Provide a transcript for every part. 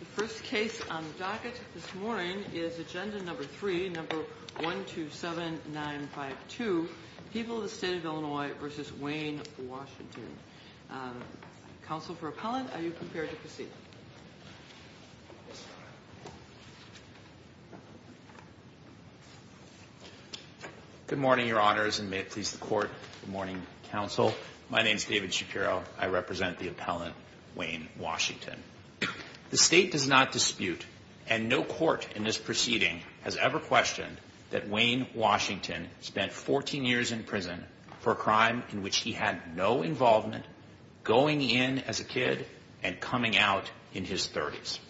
The first case on the docket this morning is agenda number three, number 127952. People of the State of Illinois v. Wayne, Washington. Counsel for Appellant, are you prepared to proceed? Good morning, Your Honors, and may it please the Court. Good morning, Counsel. My name is David Shapiro. I represent the appellant, Wayne Washington. The State does not dispute, and no court in this proceeding has ever questioned, that Wayne Washington spent 14 years in prison for a crime in which he had no involvement, going in as a kid, and coming out in his 30s.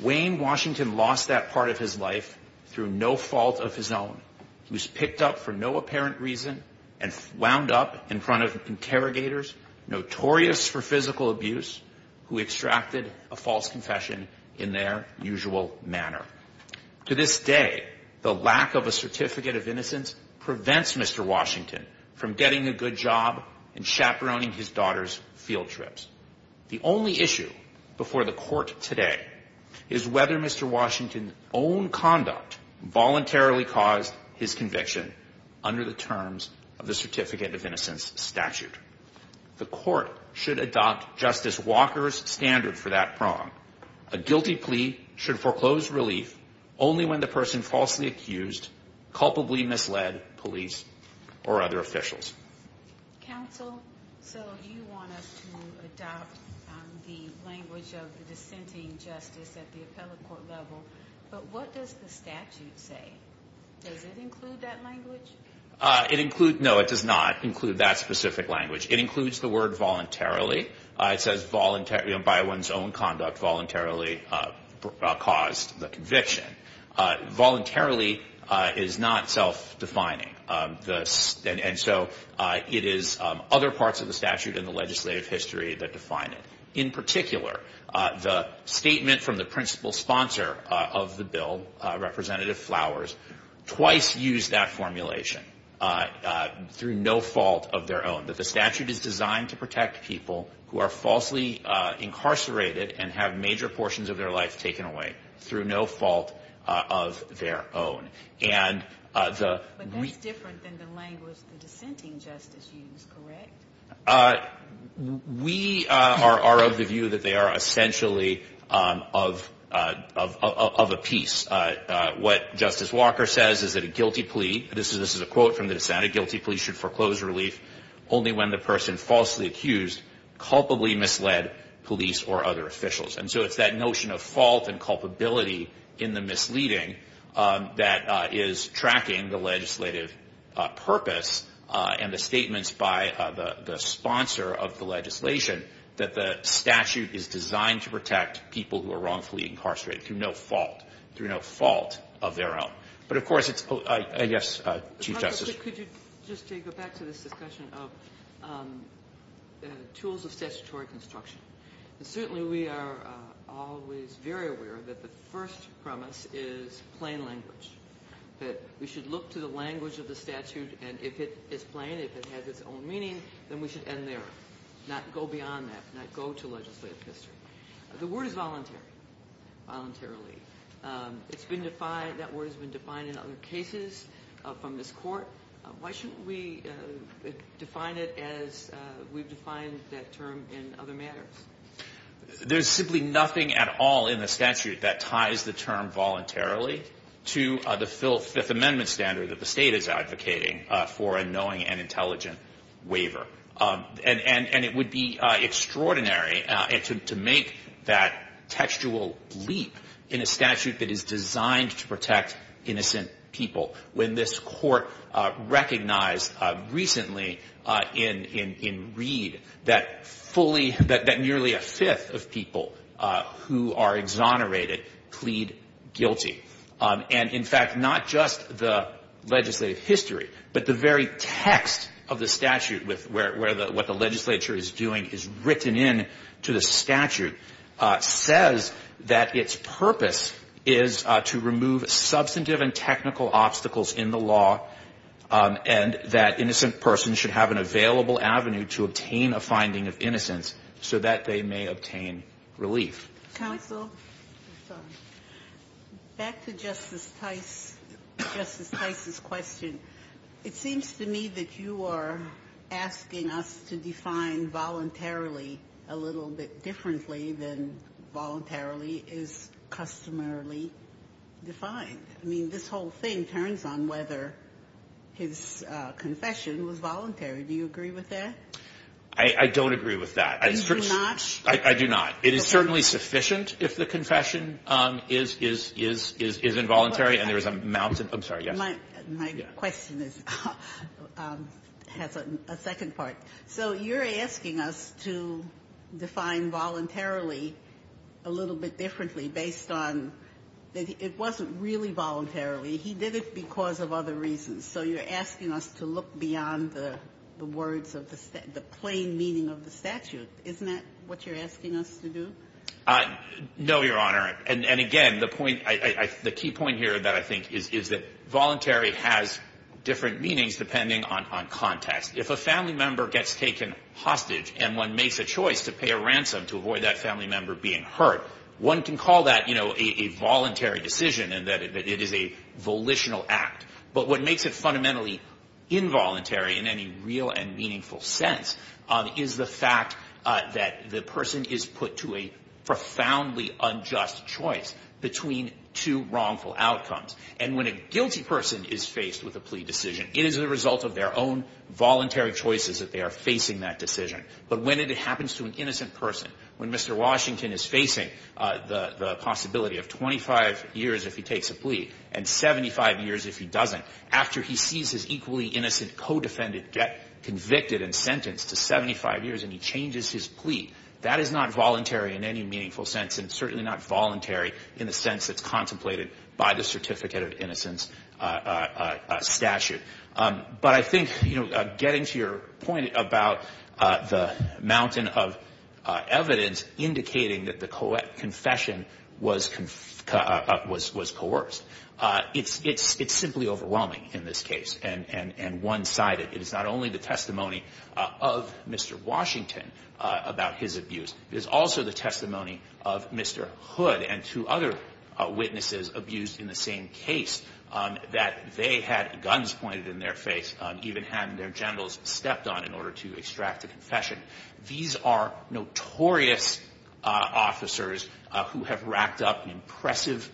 Wayne Washington lost that part of his life through no fault of his own. He was picked up for no apparent reason and wound up in front of interrogators, notorious for physical abuse, who extracted a false confession in their usual manner. To this day, the lack of a certificate of innocence prevents Mr. Washington from getting a good job and chaperoning his daughter's field trips. The only issue before the Court today is whether Mr. Washington's own conduct voluntarily caused his conviction under the terms of the certificate of innocence statute. The Court should adopt Justice Walker's standard for that prong. A guilty plea should foreclose relief only when the person falsely accused culpably misled police or other officials. Counsel, so you want us to adopt the language of the dissenting justice at the appellate court level, but what does the statute say? Does it include that language? No, it does not include that specific language. It includes the word voluntarily. It says by one's own conduct voluntarily caused the conviction. Voluntarily is not self-defining, and so it is other parts of the statute and the legislative history that define it. In particular, the statement from the principal sponsor of the bill, Representative Flowers, twice used that formulation, through no fault of their own, that the statute is designed to protect people who are falsely incarcerated and have major portions of their life taken away through no fault of their own. But that's different than the language the dissenting justice used, correct? We are of the view that they are essentially of a piece. What Justice Walker says is that a guilty plea, this is a quote from the dissent, a guilty plea should foreclose relief only when the person falsely accused culpably misled police or other officials. And so it's that notion of fault and culpability in the misleading that is tracking the legislative purpose and the statements by the sponsor of the legislation that the statute is designed to protect people who are wrongfully incarcerated through no fault, through no fault of their own. But, of course, it's, I guess, Chief Justice. Could you just go back to this discussion of tools of statutory construction? Certainly we are always very aware that the first premise is plain language, that we should look to the language of the statute, and if it is plain, if it has its own meaning, then we should end there, not go beyond that, not go to legislative history. The word is voluntary, voluntarily. It's been defined, that word has been defined in other cases from this court. Why shouldn't we define it as we've defined that term in other matters? There's simply nothing at all in the statute that ties the term voluntarily to the Fifth Amendment standard that the state is advocating for a knowing and intelligent waiver. And it would be extraordinary to make that textual leap in a statute that is designed to protect innocent people. When this court recognized recently in Reed that nearly a fifth of people who are exonerated plead guilty. And, in fact, not just the legislative history, but the very text of the statute where what the legislature is doing is written in to the statute, says that its purpose is to remove substantive and technical obstacles in the law and that innocent persons should have an available avenue to obtain a finding of innocence so that they may obtain relief. Ginsburg. Back to Justice Tice, Justice Tice's question. It seems to me that you are asking us to define voluntarily a little bit differently than voluntarily is customarily defined. I mean, this whole thing turns on whether his confession was voluntary. Do you agree with that? I don't agree with that. You do not? I do not. It is certainly sufficient if the confession is involuntary and there is a mountain My question has a second part. So you're asking us to define voluntarily a little bit differently based on that it wasn't really voluntarily. He did it because of other reasons. So you're asking us to look beyond the words of the plain meaning of the statute. Isn't that what you're asking us to do? No, Your Honor. And, again, the key point here that I think is that voluntary has different meanings depending on context. If a family member gets taken hostage and one makes a choice to pay a ransom to avoid that family member being hurt, one can call that a voluntary decision and that it is a volitional act. But what makes it fundamentally involuntary in any real and meaningful sense is the fact that the person is put to a profoundly unjust choice between two wrongful outcomes. And when a guilty person is faced with a plea decision, it is the result of their own voluntary choices that they are facing that decision. But when it happens to an innocent person, when Mr. Washington is facing the possibility of 25 years if he takes a plea and 75 years if he doesn't, after he sees his equally innocent co-defendant get convicted and sentenced to 75 years and he changes his plea, that is not voluntary in any meaningful sense and certainly not voluntary in the sense that's contemplated by the certificate of innocence statute. But I think getting to your point about the mountain of evidence indicating that the confession was coerced, it's simply overwhelming in this case and one-sided. It is not only the testimony of Mr. Washington about his abuse. It is also the testimony of Mr. Hood and two other witnesses abused in the same case that they had guns pointed in their face, even had their genitals stepped on in order to extract a confession. These are notorious officers who have racked up an impressive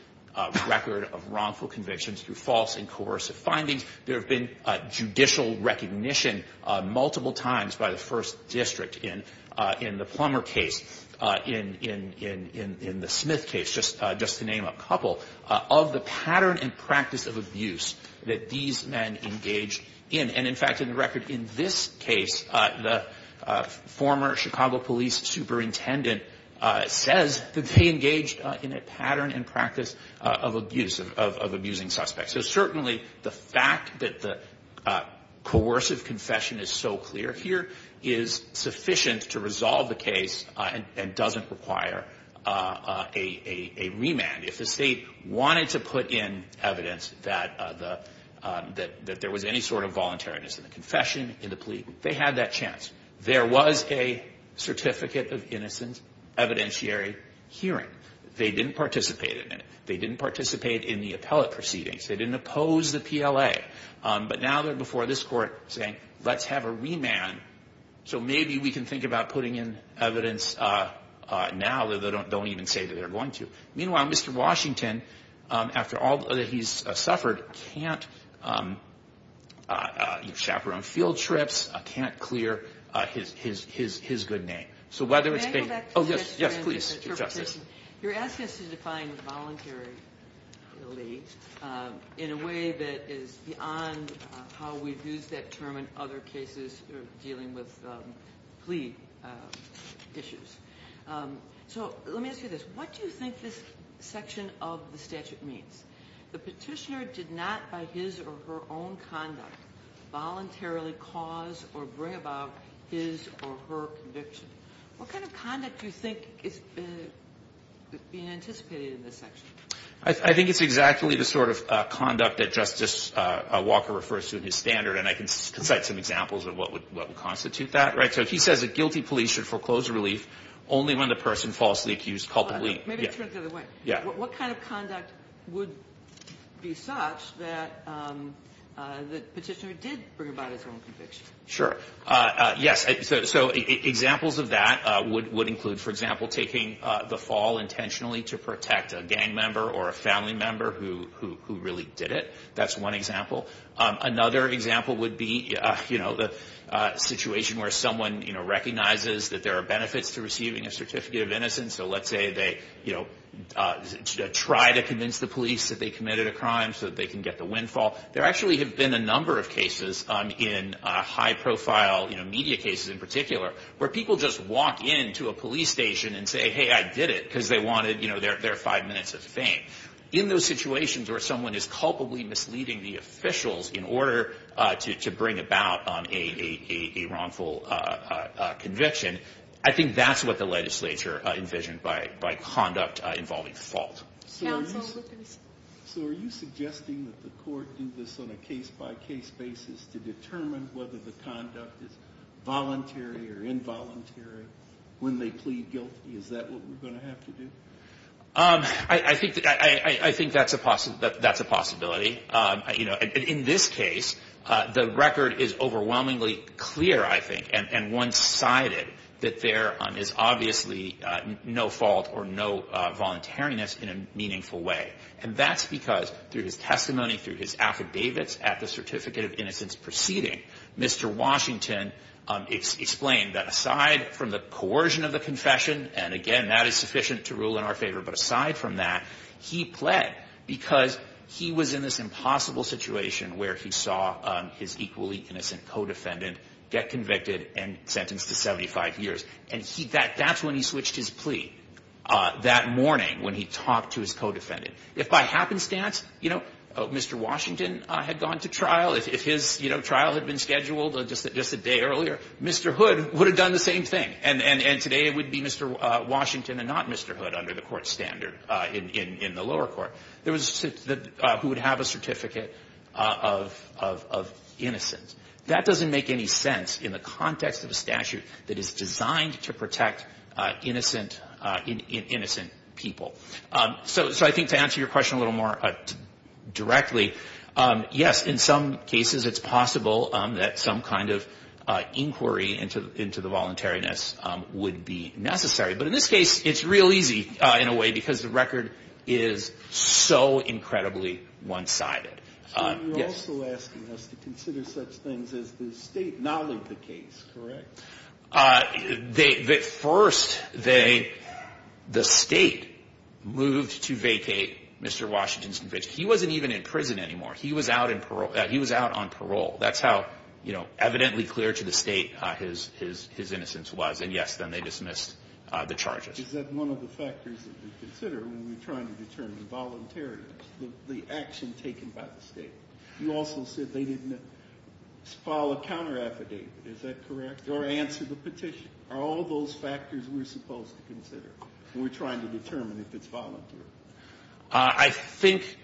record of wrongful convictions through false and coercive findings. There have been judicial recognition multiple times by the first district in the Plummer case, in the Smith case, just to name a couple. Of the pattern and practice of abuse that these men engaged in. And in fact, in the record in this case, the former Chicago police superintendent says that they engaged in a pattern and practice of abuse, of abusing suspects. So certainly the fact that the coercive confession is so clear here is sufficient to resolve the case and doesn't require a remand. If the state wanted to put in evidence that there was any sort of voluntariness in the confession, in the plea, they had that chance. There was a certificate of innocence evidentiary hearing. They didn't participate in it. They didn't participate in the appellate proceedings. They didn't oppose the PLA. But now they're before this court saying let's have a remand so maybe we can think about putting in evidence now that they don't even say that they're going to. Meanwhile, Mr. Washington, after all that he's suffered, can't chaperone field trips, can't clear his good name. So whether it's being- Can I go back to the question? Yes, please, Justice. You're asking us to define voluntary in a way that is beyond how we use that term in other cases dealing with plea issues. So let me ask you this. What do you think this section of the statute means? The petitioner did not by his or her own conduct voluntarily cause or bring about his or her conviction. What kind of conduct do you think is being anticipated in this section? I think it's exactly the sort of conduct that Justice Walker refers to in his standard, and I can cite some examples of what would constitute that. So he says that guilty police should foreclose a relief only when the person falsely accused culpably- Maybe turn it the other way. What kind of conduct would be such that the petitioner did bring about his or her own conviction? Sure. Yes, so examples of that would include, for example, taking the fall intentionally to protect a gang member or a family member who really did it. That's one example. Another example would be the situation where someone recognizes that there are benefits to receiving a certificate of innocence. So let's say they try to convince the police that they committed a crime so that they can get the windfall. There actually have been a number of cases in high-profile media cases in particular where people just walk into a police station and say, hey, I did it, because they wanted their five minutes of fame. In those situations where someone is culpably misleading the officials in order to bring about a wrongful conviction, I think that's what the legislature envisioned by conduct involving fault. So are you suggesting that the court do this on a case-by-case basis to determine whether the conduct is voluntary or involuntary when they plead guilty? Is that what we're going to have to do? I think that's a possibility. In this case, the record is overwhelmingly clear, I think, and one-sided that there is obviously no fault or no voluntariness in a meaningful way. And that's because through his testimony, through his affidavits at the certificate of innocence proceeding, Mr. Washington explained that aside from the coercion of the confession, and again, that is sufficient to rule in our favor, but aside from that, he pled because he was in this impossible situation where he saw his equally innocent co-defendant get convicted and sentenced to 75 years. And that's when he switched his plea, that morning when he talked to his co-defendant. If by happenstance, you know, Mr. Washington had gone to trial, if his trial had been scheduled just a day earlier, Mr. Hood would have done the same thing. And today it would be Mr. Washington and not Mr. Hood under the court standard in the lower court, who would have a certificate of innocence. That doesn't make any sense in the context of a statute that is designed to protect innocent people. So I think to answer your question a little more directly, yes, in some cases it's possible that some kind of inquiry into the voluntariness would be necessary. But in this case, it's real easy, in a way, because the record is so incredibly one-sided. So you're also asking us to consider such things as the state not leave the case, correct? First, the state moved to vacate Mr. Washington's conviction. He wasn't even in prison anymore. He was out on parole. That's how evidently clear to the state his innocence was. And yes, then they dismissed the charges. Is that one of the factors that we consider when we're trying to determine voluntariness, the action taken by the state? You also said they didn't file a counter affidavit. Is that correct? Or answer the petition? Are all those factors we're supposed to consider when we're trying to determine if it's voluntary? I think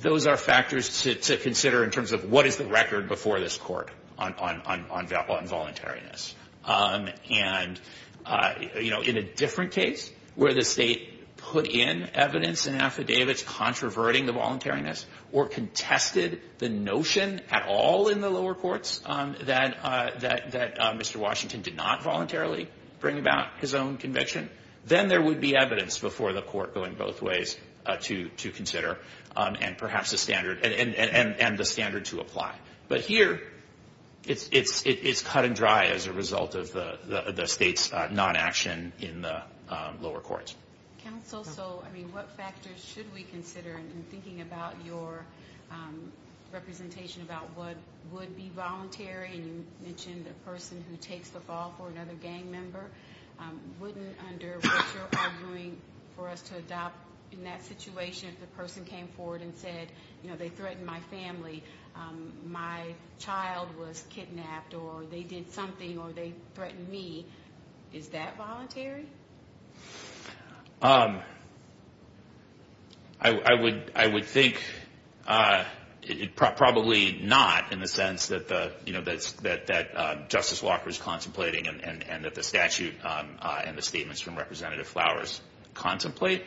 those are factors to consider in terms of what is the record before this court on voluntariness. And, you know, in a different case where the state put in evidence and affidavits controverting the voluntariness or contested the notion at all in the lower courts that Mr. Washington did not voluntarily bring about his own conviction, then there would be evidence before the court going both ways to consider and perhaps a standard and the standard to apply. But here it's cut and dry as a result of the state's non-action in the lower courts. Counsel, so, I mean, what factors should we consider in thinking about your representation about what would be voluntary? And you mentioned a person who takes the fall for another gang member. Wouldn't, under what you're arguing for us to adopt in that situation, if the person came forward and said, you know, they threatened my family, my child was kidnapped or they did something or they threatened me, is that voluntary? I would think probably not in the sense that, you know, that Justice Walker is contemplating and that the statute and the statements from Representative Flowers contemplate.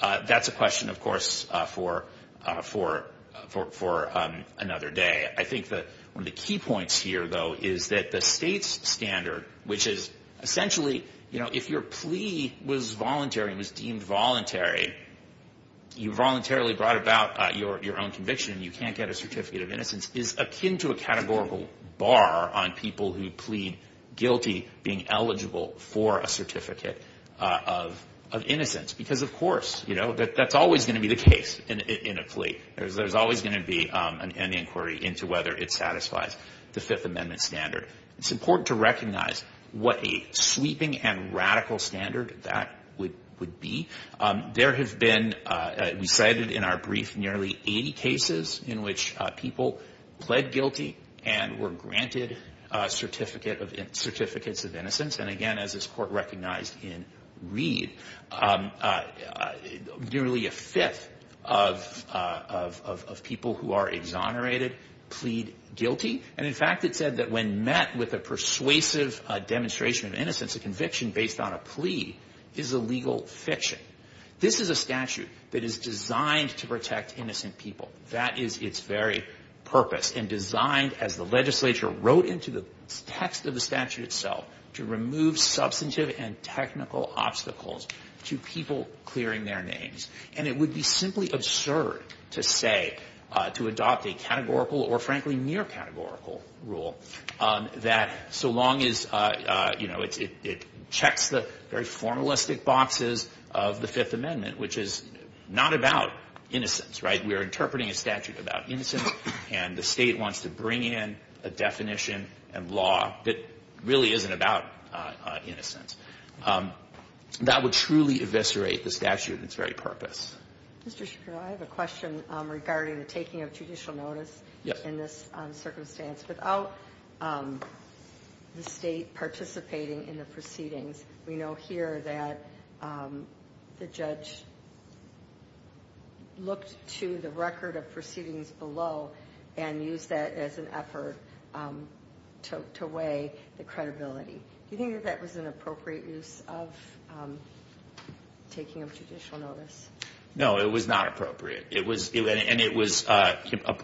That's a question, of course, for another day. I think that one of the key points here, though, is that the state's standard, which is essentially, you know, if your plea was voluntary and was deemed voluntary, you voluntarily brought about your own conviction and you can't get a certificate of innocence, is akin to a categorical bar on people who plead guilty being eligible for a certificate of innocence. Because, of course, you know, that's always going to be the case in a plea. There's always going to be an inquiry into whether it satisfies the Fifth Amendment standard. It's important to recognize what a sweeping and radical standard that would be. There have been, we cited in our brief, nearly 80 cases in which people pled guilty and were granted certificates of innocence. And, again, as this Court recognized in Reed, nearly a fifth of people who are exonerated plead guilty. And, in fact, it said that when met with a persuasive demonstration of innocence, a conviction based on a plea is a legal fiction. This is a statute that is designed to protect innocent people. That is its very purpose and designed, as the legislature wrote into the text of the statute itself, to remove substantive and technical obstacles to people clearing their names. And it would be simply absurd to say, to adopt a categorical or, frankly, near categorical rule, that so long as, you know, it checks the very formalistic boxes of the Fifth Amendment, which is not about innocence, right? We are interpreting a statute about innocence, and the State wants to bring in a definition and law that really isn't about innocence. That would truly eviscerate the statute and its very purpose. Mr. Shapiro, I have a question regarding the taking of judicial notice in this circumstance. Without the State participating in the proceedings, we know here that the judge looked to the record of proceedings below and used that as an effort to weigh the credibility. Do you think that that was an appropriate use of taking of judicial notice? No, it was not appropriate, and it was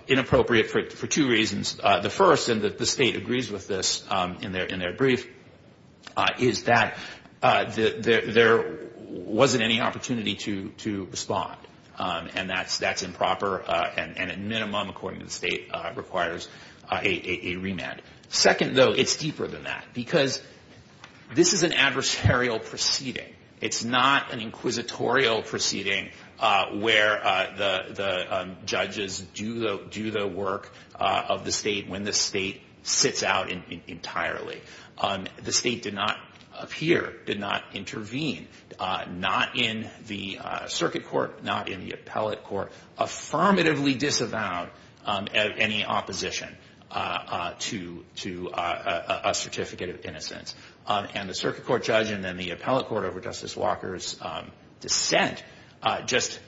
inappropriate for two reasons. The first, and the State agrees with this in their brief, is that there wasn't any opportunity to respond, and that's improper and, at minimum, according to the State, requires a remand. Second, though, it's deeper than that because this is an adversarial proceeding. It's not an inquisitorial proceeding where the judges do the work of the State when the State sits out entirely. The State did not appear, did not intervene, not in the circuit court, not in the appellate court, affirmatively disavow any opposition to a certificate of innocence. And the circuit court judge and then the appellate court over Justice Walker's dissent just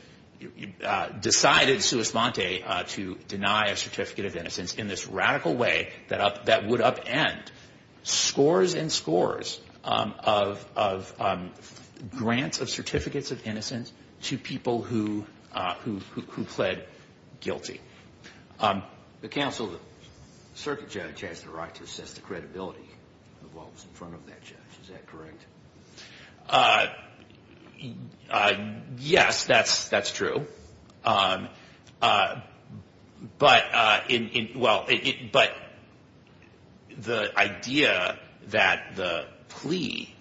decided sua sponte to deny a certificate of innocence in this radical way that would upend scores and scores of grants of certificates of innocence to people who pled guilty. The counsel, the circuit judge has the right to assess the credibility of what was in front of that judge. Is that correct? Yes, that's true. But the idea that the plea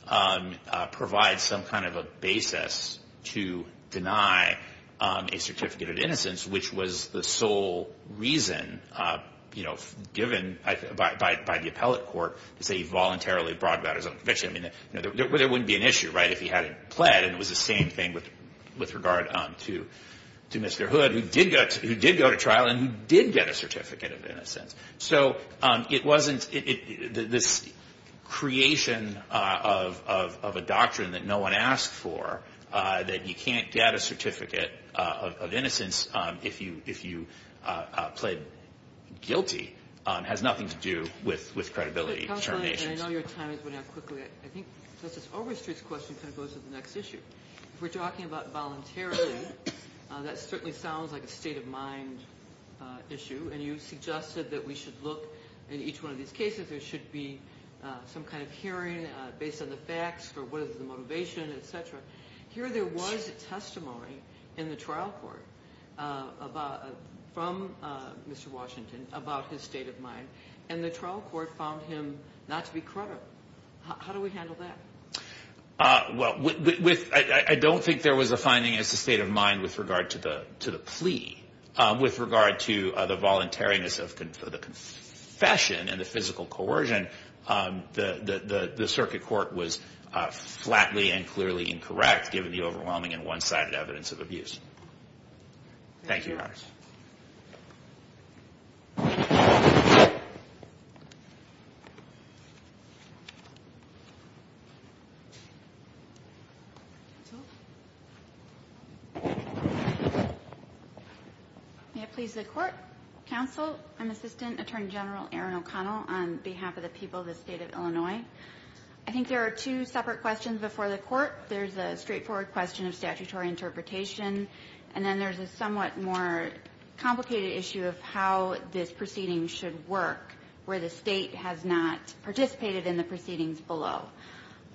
provides some kind of a basis to deny a certificate of innocence, which was the sole reason given by the appellate court to say he voluntarily brought about his own conviction, there wouldn't be an issue if he hadn't pled, and it was the same thing with regard to Mr. Hood, who did go to trial and who did get a certificate of innocence. So it wasn't this creation of a doctrine that no one asked for, that you can't get a certificate of innocence if you pled guilty, has nothing to do with credibility determinations. I know your time is running out quickly. I think Justice Overstreet's question kind of goes to the next issue. If we're talking about voluntarily, that certainly sounds like a state of mind issue, and you suggested that we should look in each one of these cases, there should be some kind of hearing based on the facts for what is the motivation, et cetera. Here there was a testimony in the trial court from Mr. Washington about his state of mind, and the trial court found him not to be credible. How do we handle that? I don't think there was a finding as to state of mind with regard to the plea. With regard to the voluntariness of the confession and the physical coercion, the circuit court was flatly and clearly incorrect, given the overwhelming and one-sided evidence of abuse. Thank you, Your Honor. Counsel? May it please the Court. Counsel, I'm Assistant Attorney General Erin O'Connell, on behalf of the people of the state of Illinois. I think there are two separate questions before the Court. There's a straightforward question of statutory interpretation, and then there's a somewhat more complicated issue of how this proceeding should work, where the State has not participated in the proceedings below.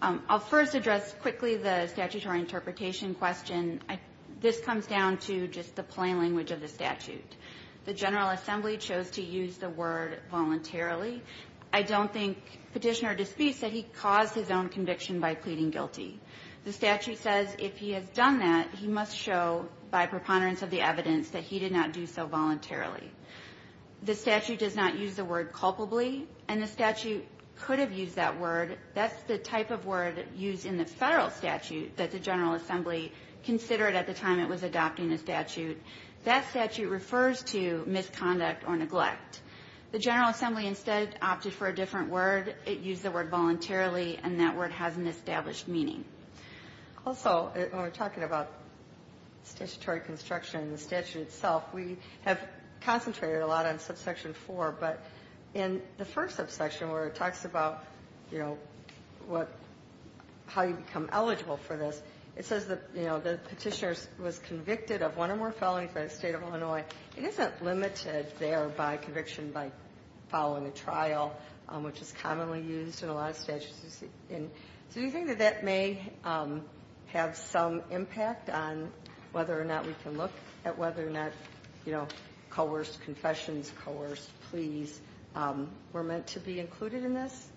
I'll first address quickly the statutory interpretation question. This comes down to just the plain language of the statute. The General Assembly chose to use the word voluntarily. I don't think Petitioner disputes that he caused his own conviction by pleading guilty. The statute says if he has done that, he must show by preponderance of the evidence that he did not do so voluntarily. The statute does not use the word culpably, and the statute could have used that word. That's the type of word used in the Federal statute that the General Assembly considered at the time it was adopting the statute. That statute refers to misconduct or neglect. The General Assembly instead opted for a different word. It used the word voluntarily, and that word has an established meaning. Also, when we're talking about statutory construction and the statute itself, we have concentrated a lot on Subsection 4, but in the first subsection where it talks about how you become eligible for this, it says the Petitioner was convicted of one or more felonies by the State of Illinois. It isn't limited there by conviction by following a trial, which is commonly used in a lot of statutes. Do you think that that may have some impact on whether or not we can look at whether or not, you know, coerced confessions, coerced pleas were meant to be included in this?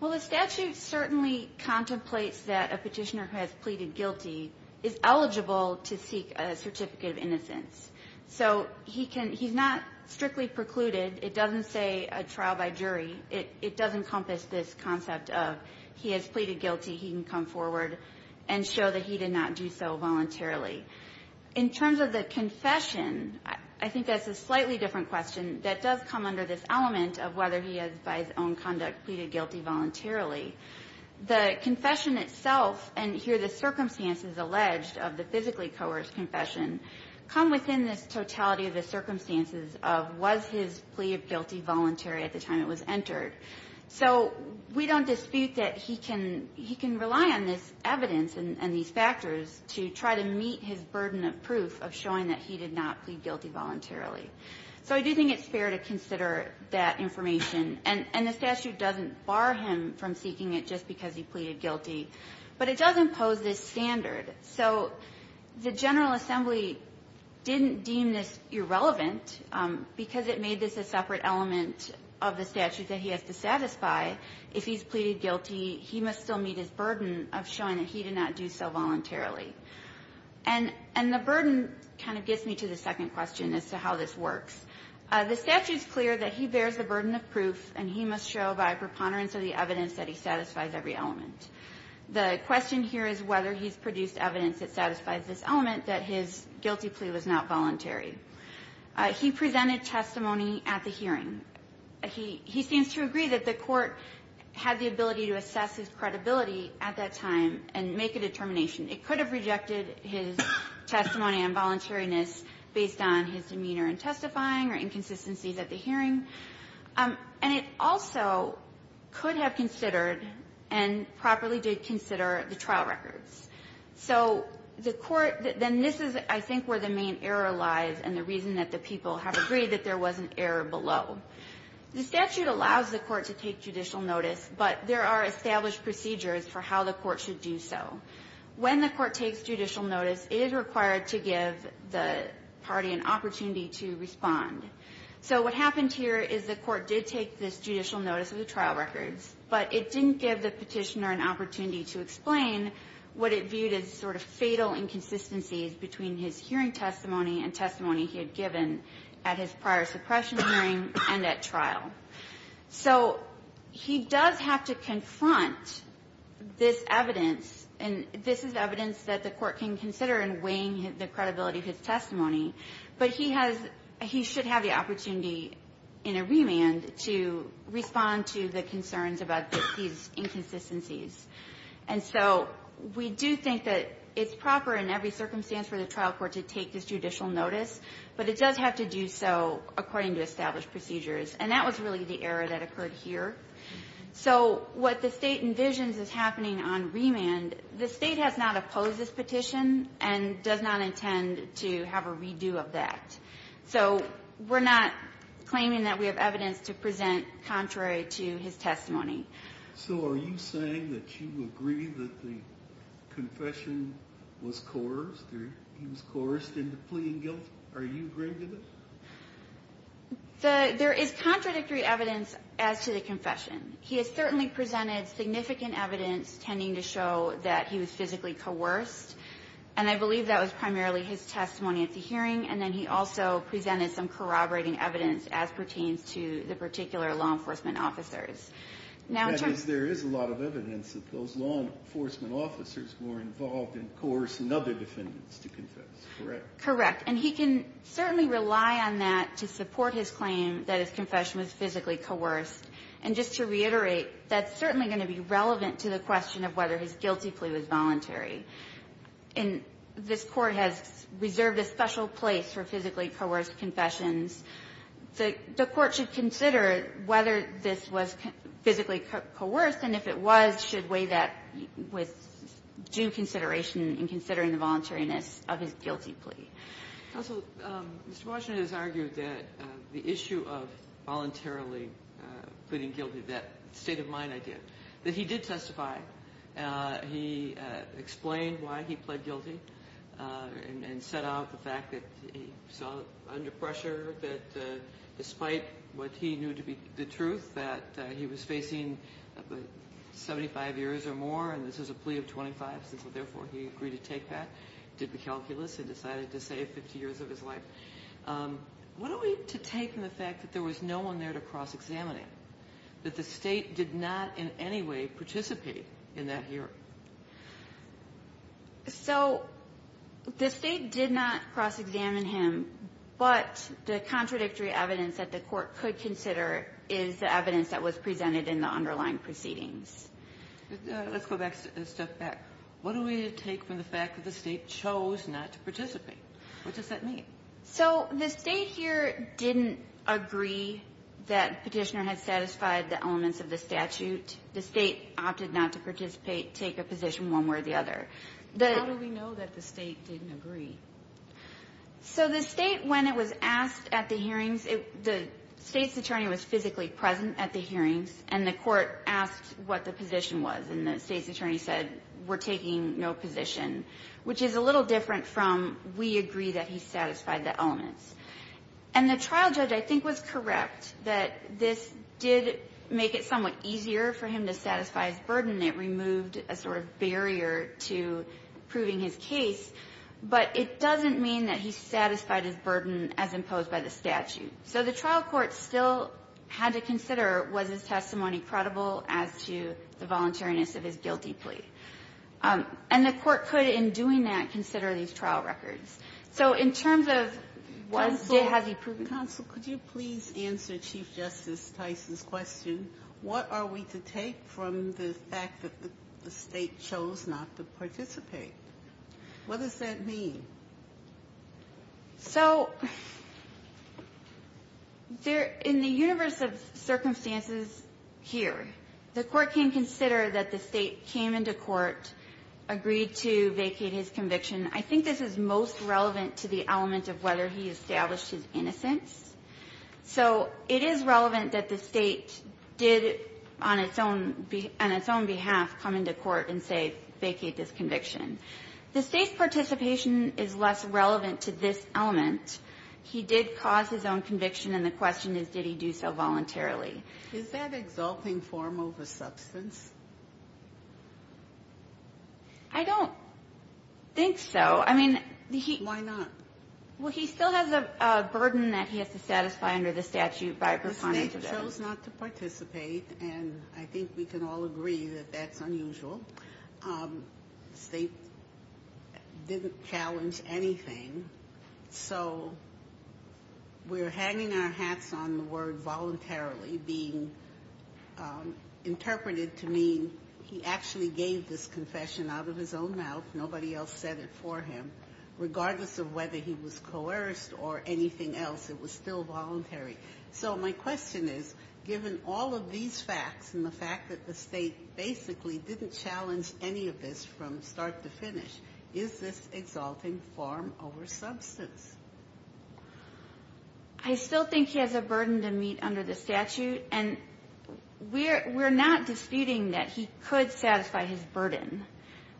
Well, the statute certainly contemplates that a Petitioner who has pleaded guilty is eligible to seek a Certificate of Innocence. So he's not strictly precluded. It doesn't say a trial by jury. It does encompass this concept of he has pleaded guilty, he can come forward and show that he did not do so voluntarily. In terms of the confession, I think that's a slightly different question that does come under this element of whether he has, by his own conduct, pleaded guilty voluntarily. The confession itself, and here the circumstances alleged of the physically coerced confession, come within this totality of the circumstances of was his plea of guilty voluntary at the time it was entered. So we don't dispute that he can rely on this evidence and these factors to try to meet his burden of proof of showing that he did not plead guilty voluntarily. So I do think it's fair to consider that information. And the statute doesn't bar him from seeking it just because he pleaded guilty. But it does impose this standard. So the General Assembly didn't deem this irrelevant because it made this a separate element of the statute that he has to satisfy. If he's pleaded guilty, he must still meet his burden of showing that he did not do so voluntarily. And the burden kind of gets me to the second question as to how this works. The statute's clear that he bears the burden of proof and he must show by preponderance of the evidence that he satisfies every element. The question here is whether he's produced evidence that satisfies this element that his guilty plea was not voluntary. He presented testimony at the hearing. He stands to agree that the Court had the ability to assess his credibility at that time and make a determination. It could have rejected his testimony on voluntariness based on his demeanor in testifying or inconsistencies at the hearing. And it also could have considered and properly did consider the trial records. So the Court then this is, I think, where the main error lies and the reason that the people have agreed that there was an error below. The statute allows the Court to take judicial notice, but there are established procedures for how the Court should do so. When the Court takes judicial notice, it is required to give the party an opportunity to respond. So what happened here is the Court did take this judicial notice of the trial records, but it didn't give the Petitioner an opportunity to explain what it viewed as sort of fatal inconsistencies between his hearing testimony and testimony he had given at his prior suppression hearing and at trial. So he does have to confront this evidence, and this is evidence that the Court can consider in weighing the credibility of his testimony. But he has he should have the opportunity in a remand to respond to the concerns about these inconsistencies. And so we do think that it's proper in every circumstance for the trial court to take this judicial notice, but it does have to do so according to established procedures. And that was really the error that occurred here. So what the State envisions is happening on remand. The State has not opposed this petition and does not intend to have a redo of that. So we're not claiming that we have evidence to present contrary to his testimony. So are you saying that you agree that the confession was coerced or he was coerced into pleading guilt? Are you agreeing to that? There is contradictory evidence as to the confession. He has certainly presented significant evidence tending to show that he was physically coerced, and I believe that was primarily his testimony at the hearing. And then he also presented some corroborating evidence as pertains to the particular law enforcement officers. That is, there is a lot of evidence that those law enforcement officers were involved in coercing other defendants to confess, correct? Correct. And he can certainly rely on that to support his claim that his confession was physically coerced. And just to reiterate, that's certainly going to be relevant to the question of whether his guilty plea was voluntary. And this Court has reserved a special place for physically coerced confessions. The Court should consider whether this was physically coerced, and if it was, should weigh that with due consideration in considering the voluntariness of his guilty plea. Counsel, Mr. Washington has argued that the issue of voluntarily pleading guilty, that state of mind idea, that he did testify. He explained why he pled guilty and set out the fact that he saw under pressure that despite what he knew to be the truth, that he was facing 75 years or more, and this was a plea of 25, so therefore he agreed to take that, did the calculus, and decided to save 50 years of his life. What are we to take from the fact that there was no one there to cross-examine him? That the state did not in any way participate in that hearing? So the state did not cross-examine him, but the contradictory evidence that the Court could consider is the evidence that was presented in the underlying proceedings. Let's go back a step back. What are we to take from the fact that the state chose not to participate? What does that mean? So the state here didn't agree that Petitioner had satisfied the elements of the statute. The state opted not to participate, take a position one way or the other. How do we know that the state didn't agree? So the state, when it was asked at the hearings, the state's attorney was physically present at the hearings, and the Court asked what the position was, and the state's which is a little different from, we agree that he satisfied the elements. And the trial judge, I think, was correct that this did make it somewhat easier for him to satisfy his burden. It removed a sort of barrier to proving his case, but it doesn't mean that he satisfied his burden as imposed by the statute. So the trial court still had to consider, was his testimony credible as to the voluntariness of his guilty plea? And the court could, in doing that, consider these trial records. So in terms of was, did, has he proven guilty? Counsel, could you please answer Chief Justice Tyson's question? What are we to take from the fact that the state chose not to participate? What does that mean? So in the universe of circumstances here, the court can consider that the state came into court, agreed to vacate his conviction. I think this is most relevant to the element of whether he established his innocence. So it is relevant that the state did, on its own behalf, come into court and say, vacate this conviction. The state's participation is less relevant to this element. He did cause his own conviction, and the question is, did he do so voluntarily? Is that exalting form over substance? I don't think so. I mean, he. Why not? Well, he still has a burden that he has to satisfy under the statute by performance. The state chose not to participate, and I think we can all agree that that's unusual. The state didn't challenge anything. So we're hanging our hats on the word voluntarily being interpreted to mean he actually gave this confession out of his own mouth. Nobody else said it for him. Regardless of whether he was coerced or anything else, it was still voluntary. So my question is, given all of these facts and the fact that the state basically didn't challenge any of this from start to finish, is this exalting form over substance? I still think he has a burden to meet under the statute, and we're not disputing that he could satisfy his burden.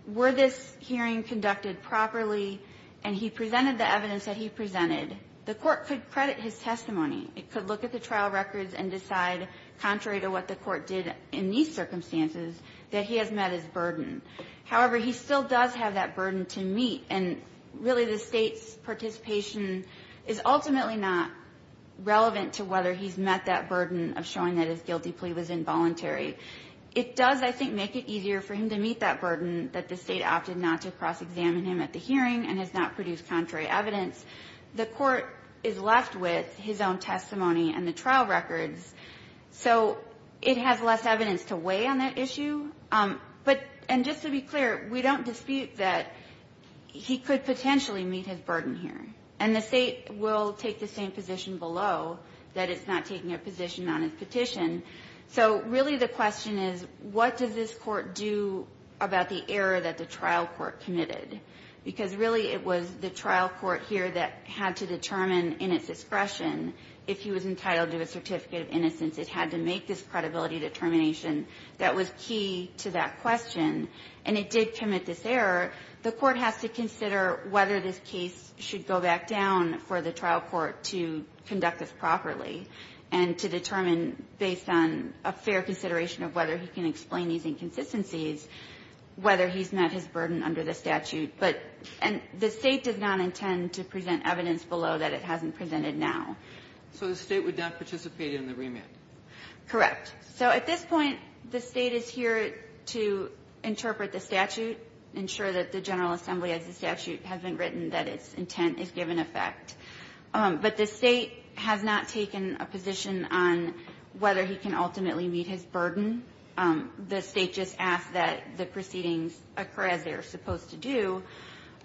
Were this hearing conducted properly and he presented the evidence that he presented, the court could credit his testimony. It could look at the trial records and decide, contrary to what the court did in these circumstances, that he has met his burden. However, he still does have that burden to meet, and really the state's participation is ultimately not relevant to whether he's met that burden of showing that his guilty plea was involuntary. It does, I think, make it easier for him to meet that burden that the state opted not to cross-examine him at the hearing and has not produced contrary evidence. The court is left with his own testimony and the trial records, so it has less evidence to weigh on that issue. And just to be clear, we don't dispute that he could potentially meet his burden here, and the state will take the same position below, that it's not taking a position on his petition. So really the question is, what does this court do about the error that the trial court committed? Because really it was the trial court here that had to determine in its discretion if he was entitled to a certificate of innocence. It had to make this credibility determination that was key to that question, and it did commit this error. The court has to consider whether this case should go back down for the trial court to conduct this properly and to determine, based on a fair consideration of whether he can explain these inconsistencies, whether he's met his burden under the statute. But the state does not intend to present evidence below that it hasn't presented So the state would not participate in the remand? Correct. So at this point, the State is here to interpret the statute, ensure that the General Assembly, as the statute has been written, that its intent is given effect. But the State has not taken a position on whether he can ultimately meet his burden. The State just asked that the proceedings occur as they are supposed to do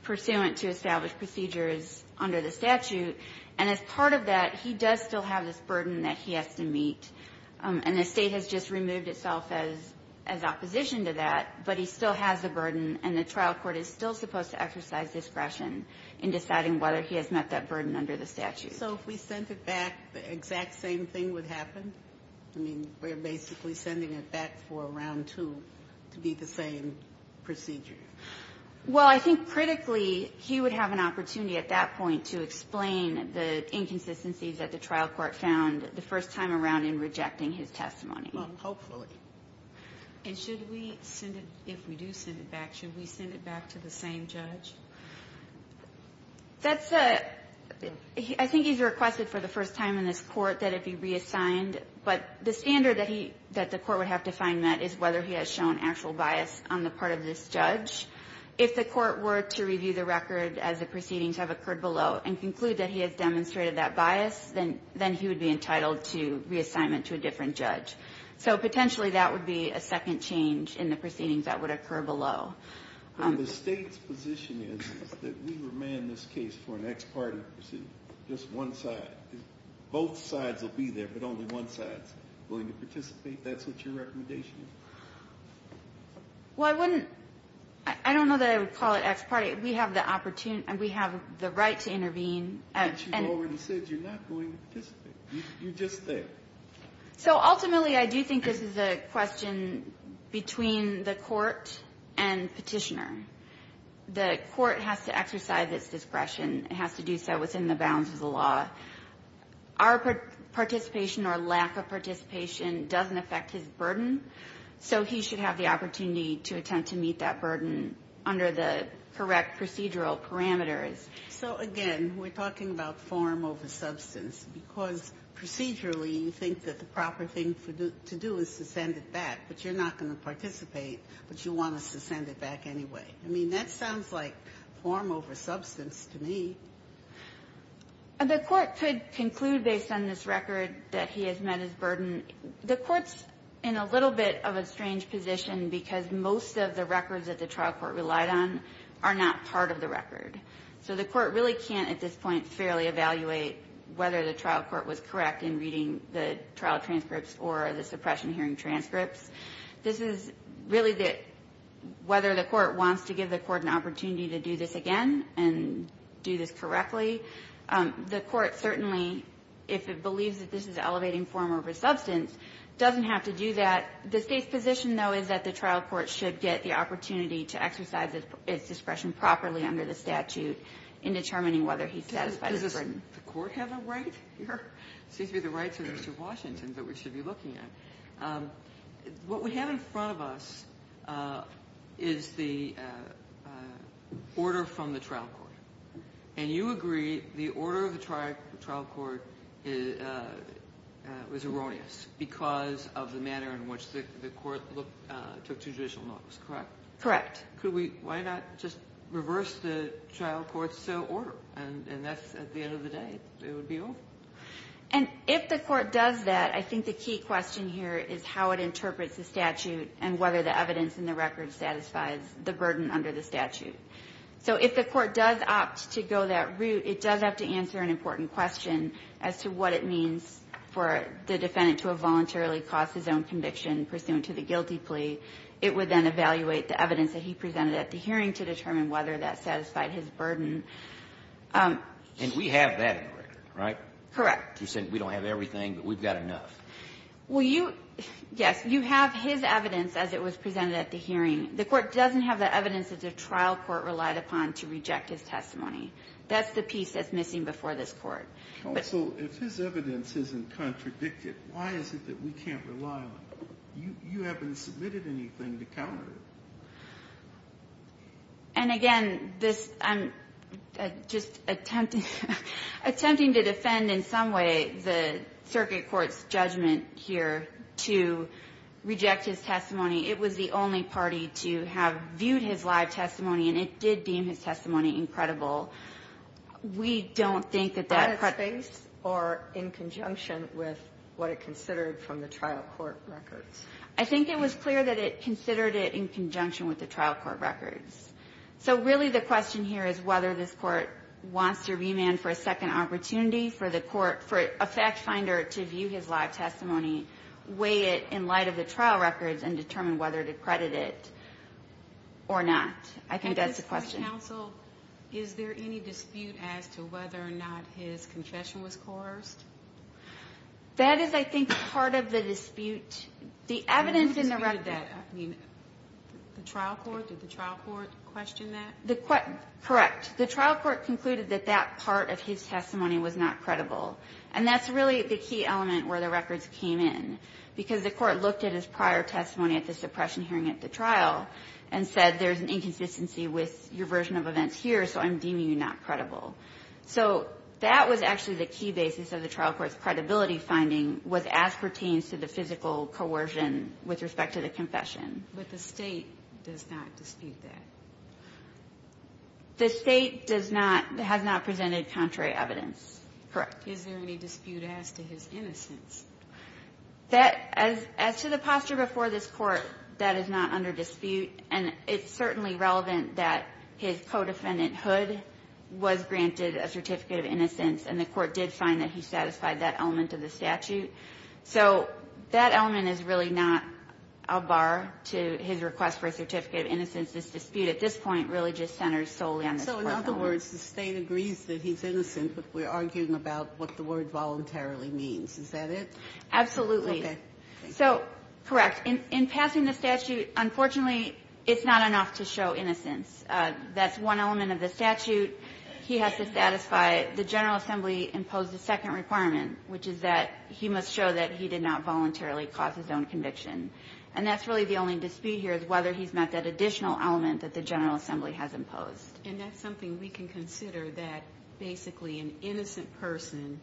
pursuant to established procedures under the statute. And as part of that, he does still have this burden that he has to meet. And the State has just removed itself as opposition to that. But he still has the burden, and the trial court is still supposed to exercise discretion in deciding whether he has met that burden under the statute. So if we sent it back, the exact same thing would happen? I mean, we're basically sending it back for a round two to be the same procedure. Well, I think critically, he would have an opportunity at that point to explain the inconsistencies that the trial court found the first time around in rejecting his testimony. Well, hopefully. And should we send it, if we do send it back, should we send it back to the same judge? That's a, I think he's requested for the first time in this Court that it be reassigned. But the standard that he, that the Court would have to find met is whether he has shown actual bias on the part of this judge. If the Court were to review the record as the proceedings have occurred below and conclude that he has demonstrated that bias, then he would be entitled to reassignment to a different judge. So potentially that would be a second change in the proceedings that would occur below. The State's position is that we remand this case for an ex parte pursuit, just one side. Both sides will be there, but only one side is willing to participate. Do you think that's what your recommendation is? Well, I wouldn't, I don't know that I would call it ex parte. We have the opportunity, we have the right to intervene. But you already said you're not going to participate. You just said. So ultimately I do think this is a question between the Court and Petitioner. The Court has to exercise its discretion. It has to do so within the bounds of the law. Our participation or lack of participation doesn't affect his burden, so he should have the opportunity to attempt to meet that burden under the correct procedural parameters. So again, we're talking about form over substance, because procedurally you think that the proper thing to do is to send it back, but you're not going to participate, but you want us to send it back anyway. I mean, that sounds like form over substance to me. The Court could conclude based on this record that he has met his burden. The Court's in a little bit of a strange position because most of the records that the trial court relied on are not part of the record. So the Court really can't at this point fairly evaluate whether the trial court was correct in reading the trial transcripts or the suppression hearing transcripts. This is really whether the Court wants to give the Court an opportunity to do this again and do this correctly. The Court certainly, if it believes that this is elevating form over substance, doesn't have to do that. The State's position, though, is that the trial court should get the opportunity to exercise its discretion properly under the statute in determining whether he's satisfied his burden. The Court has a right? It seems to be the rights of Mr. Washington that we should be looking at. What we have in front of us is the order from the trial court. And you agree the order of the trial court was erroneous because of the manner in which the Court took two judicial notes, correct? Correct. Why not just reverse the trial court's order? And that's, at the end of the day, it would be awful. And if the Court does that, I think the key question here is how it interprets the statute and whether the evidence in the record satisfies the burden under the statute. So if the Court does opt to go that route, it does have to answer an important question as to what it means for the defendant to have voluntarily caused his own conviction pursuant to the guilty plea. It would then evaluate the evidence that he presented at the hearing to determine whether that satisfied his burden. And we have that in the record, right? Correct. You said we don't have everything, but we've got enough. Well, you – yes. You have his evidence as it was presented at the hearing. The Court doesn't have the evidence that the trial court relied upon to reject his testimony. That's the piece that's missing before this Court. Counsel, if his evidence isn't contradicted, why is it that we can't rely on it? You haven't submitted anything to counter it. And, again, this – I'm just attempting to defend in some way the circuit court's judgment here to reject his testimony. It was the only party to have viewed his live testimony, and it did deem his testimony incredible. We don't think that that – But it's based or in conjunction with what it considered from the trial court records. I think it was clear that it considered it in conjunction with the trial court records. So, really, the question here is whether this Court wants to remand for a second opportunity for the Court – for a fact finder to view his live testimony, weigh it in light of the trial records, and determine whether to credit it or not. I think that's the question. Counsel, is there any dispute as to whether or not his confession was coerced? That is, I think, part of the dispute. The evidence in the records – I mean, the trial court – did the trial court question that? Correct. The trial court concluded that that part of his testimony was not credible. And that's really the key element where the records came in, because the court looked at his prior testimony at the suppression hearing at the trial and said, there's an inconsistency with your version of events here, so I'm deeming you not credible. So that was actually the key basis of the trial court's credibility finding, was as pertains to the physical coercion with respect to the confession. But the State does not dispute that? The State does not – has not presented contrary evidence. Correct. Is there any dispute as to his innocence? That – as to the posture before this Court, that is not under dispute. And it's certainly relevant that his co-defendant, Hood, was granted a certificate of innocence, and the Court did find that he satisfied that element of the statute. So that element is really not a bar to his request for a certificate of innocence. This dispute at this point really just centers solely on this Court's element. So in other words, the State agrees that he's innocent, but we're arguing about what the word voluntarily means. Is that it? Absolutely. Okay. So, correct. In passing the statute, unfortunately, it's not enough to show innocence. That's one element of the statute he has to satisfy. The General Assembly imposed a second requirement, which is that he must show that he did not voluntarily cause his own conviction. And that's really the only dispute here is whether he's met that additional element that the General Assembly has imposed. And that's something we can consider, that basically an innocent person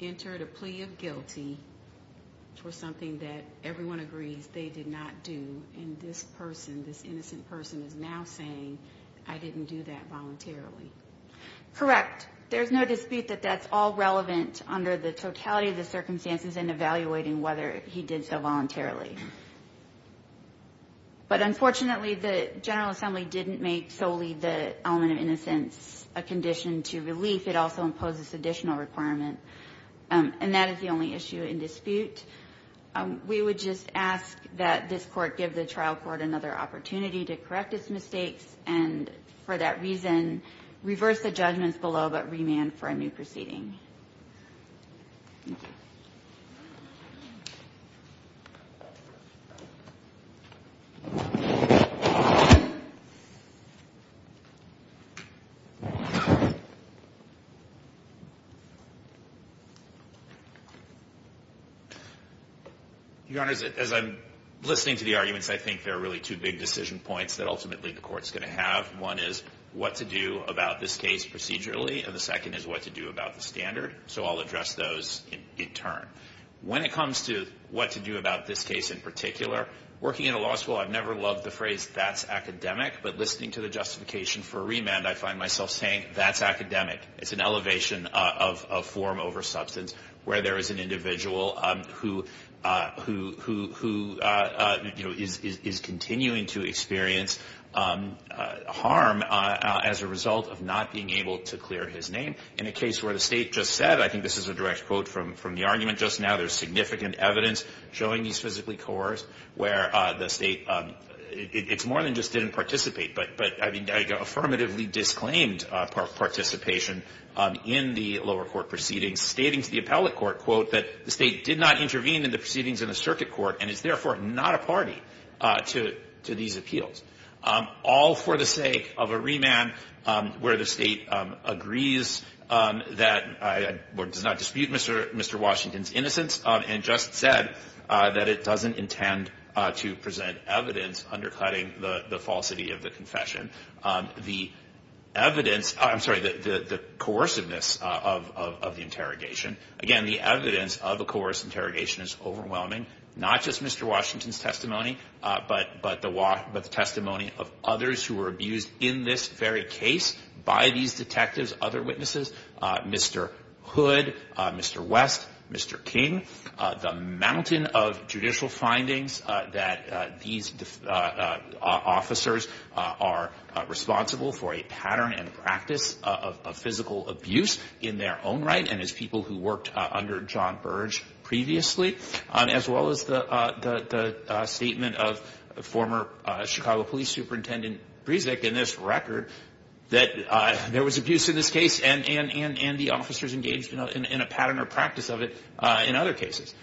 entered a plea of guilty for something that everyone agrees they did not do. And this person, this innocent person, is now saying, I didn't do that voluntarily. Correct. There's no dispute that that's all relevant under the totality of the circumstances in evaluating whether he did so voluntarily. But unfortunately, the General Assembly didn't make solely the element of innocence a condition to relief. It also imposes additional requirement. And that is the only issue in dispute. We would just ask that this Court give the trial court another opportunity to correct its mistakes and, for that reason, reverse the judgments below but remand for a new proceeding. Thank you. Your Honor, as I'm listening to the arguments, I think there are really two big decision points that ultimately the Court's going to have. One is what to do about this case procedurally, and the second is what to do about the standard. So I'll address those in turn. When it comes to what to do about this case in particular, working in a law school, I've never loved the phrase, that's academic. But listening to the justification for remand, I find myself saying, that's academic. It's an elevation of form over substance where there is an individual who, you know, is continuing to experience harm as a result of not being able to clear his name. In a case where the State just said, I think this is a direct quote from the argument just now, there's significant evidence showing he's physically coerced, where the State, it's more than just didn't participate, but, I mean, affirmatively disclaimed participation in the lower court proceedings, stating to the appellate court, quote, that the State did not intervene in the proceedings in the circuit court and is therefore not a party to these appeals. All for the sake of a remand where the State agrees that or does not dispute Mr. Washington's innocence and just said that it doesn't intend to present evidence undercutting the falsity of the confession. The evidence, I'm sorry, the coerciveness of the interrogation, again, the evidence of a coerced interrogation is overwhelming, not just Mr. Washington's testimony, but the testimony of others who were abused in this very case by these detectives, other witnesses, Mr. Hood, Mr. West, Mr. King, the mountain of judicial findings that these officers are responsible for a pattern and practice of physical abuse in their own right and as people who worked under John Burge previously, as well as the statement of the former Chicago Police Superintendent Bresnik in this record that there was abuse in this case and the officers engaged in a pattern or practice of it in other cases.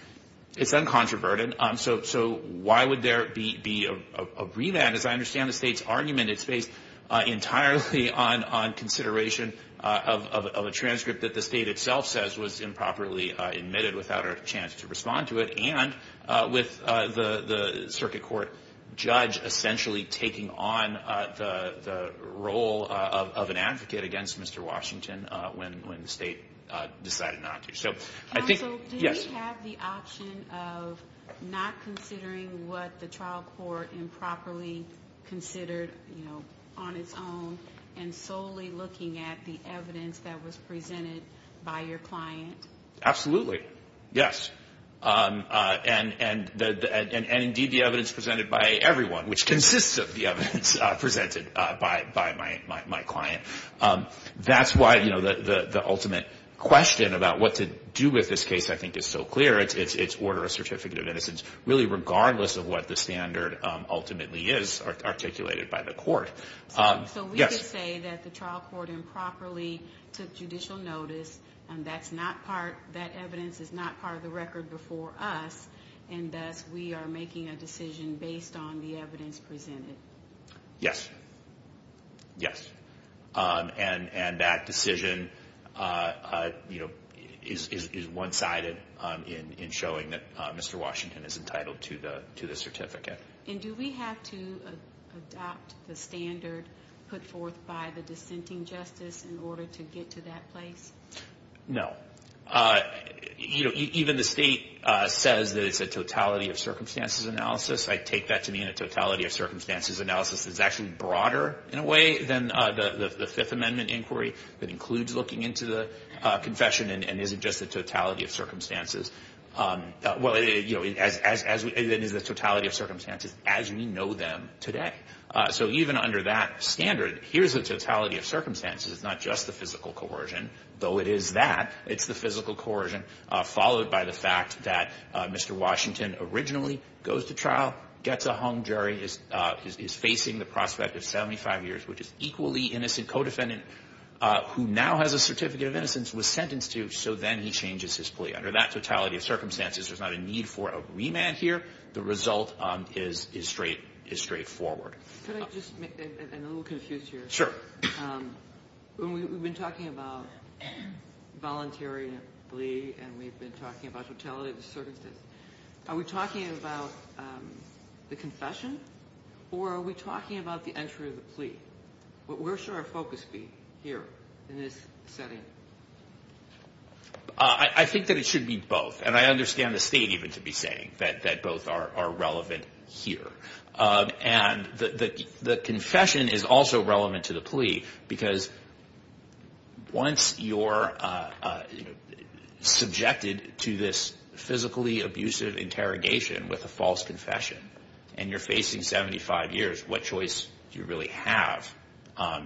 It's uncontroverted, so why would there be a remand? As I understand the State's argument, it's based entirely on consideration of a transcript that the State itself says was improperly admitted without a chance to respond to it and with the circuit court judge essentially taking on the role of an advocate against Mr. Washington when the State decided not to. Counsel, do we have the option of not considering what the trial court improperly considered on its own and solely looking at the evidence that was presented by your client? Absolutely, yes, and indeed the evidence presented by everyone, which consists of the evidence presented by my client. That's why the ultimate question about what to do with this case I think is so clear. It's order of certificate of innocence really regardless of what the standard ultimately is articulated by the court. So we could say that the trial court improperly took judicial notice and that evidence is not part of the record before us and thus we are making a decision based on the evidence presented? Yes, yes, and that decision is one-sided in showing that Mr. Washington is entitled to the certificate. And do we have to adopt the standard put forth by the dissenting justice in order to get to that place? No. Even the State says that it's a totality of circumstances analysis. I take that to mean a totality of circumstances analysis that's actually broader in a way than the Fifth Amendment inquiry that includes looking into the confession and isn't just a totality of circumstances. Well, it is a totality of circumstances as we know them today. So even under that standard, here's a totality of circumstances. It's not just the physical coercion, though it is that. It's the physical coercion followed by the fact that Mr. Washington originally goes to trial, gets a hung jury, is facing the prospect of 75 years, which is equally innocent, co-defendant who now has a certificate of innocence was sentenced to, so then he changes his plea. Under that totality of circumstances, there's not a need for a remand here. The result is straightforward. Could I just make a little confusion here? Sure. We've been talking about voluntary plea and we've been talking about totality of circumstances. Are we talking about the confession or are we talking about the entry of the plea? Where should our focus be here in this setting? I think that it should be both. And I understand the state even to be saying that both are relevant here. And the confession is also relevant to the plea because once you're subjected to this physically abusive interrogation with a false confession and you're facing 75 years, what choice do you really have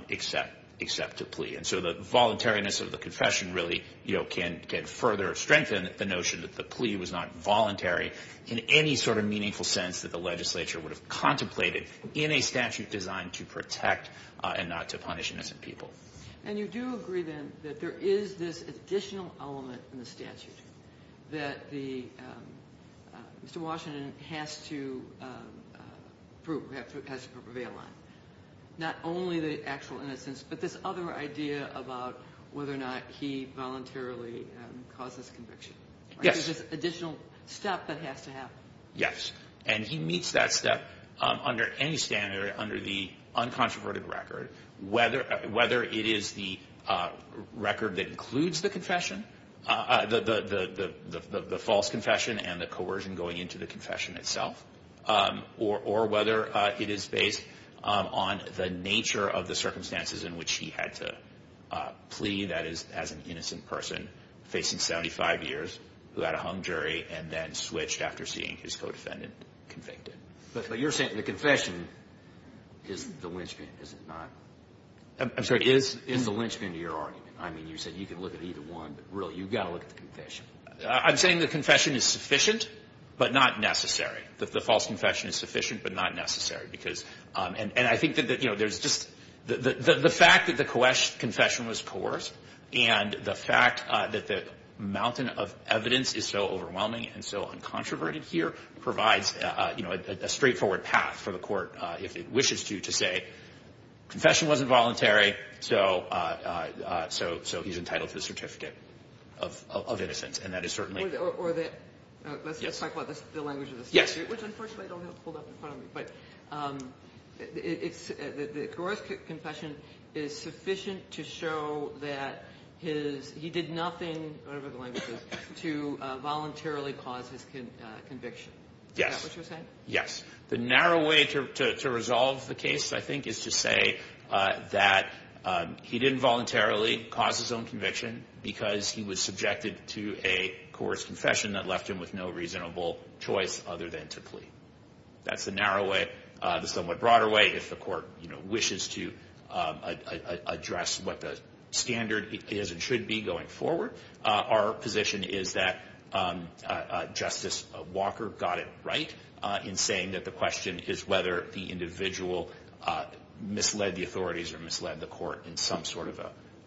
except to plea? And so the voluntariness of the confession really can further strengthen the notion that the plea was not voluntary in any sort of meaningful sense that the legislature would have contemplated in a statute designed to protect and not to punish innocent people. And you do agree then that there is this additional element in the statute that Mr. Washington has to prove, not only the actual innocence but this other idea about whether or not he voluntarily causes conviction. Yes. There's this additional step that has to happen. Yes. And he meets that step under any standard under the uncontroverted record, whether it is the record that includes the false confession and the coercion going into the confession itself or whether it is based on the nature of the circumstances in which he had to plea, that is as an innocent person facing 75 years who had a hung jury and then switched after seeing his co-defendant convicted. But you're saying the confession is the linchpin, is it not? I'm sorry. Is the linchpin to your argument? I mean, you said you can look at either one, but really you've got to look at the confession. I'm saying the confession is sufficient but not necessary. The false confession is sufficient but not necessary. And I think that, you know, there's just the fact that the confession was coerced and the fact that the mountain of evidence is so overwhelming and so uncontroverted here provides a straightforward path for the court, if it wishes to, to say confession wasn't voluntary, so he's entitled to the certificate of innocence. Or let's just talk about the language of the statute, which unfortunately I don't have pulled up in front of me. But the Goroj's confession is sufficient to show that he did nothing, whatever the language is, to voluntarily cause his conviction. Is that what you're saying? Yes. The narrow way to resolve the case, I think, is to say that he didn't voluntarily cause his own conviction because he was subjected to a coerced confession that left him with no reasonable choice other than to plead. That's the narrow way. The somewhat broader way, if the court wishes to address what the standard is and should be going forward, our position is that Justice Walker got it right in saying that the question is whether the individual misled the authorities or misled the court in some sort of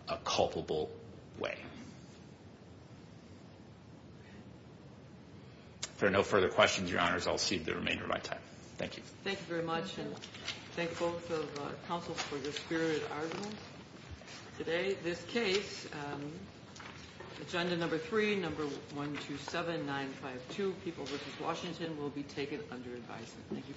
a culpable way. If there are no further questions, Your Honors, I'll cede the remainder of my time. Thank you. Thank you very much, and thank both of the counsels for your spirited arguments. Today, this case, Agenda Number 3, Number 127952, People v. Washington, will be taken under advisory. Thank you.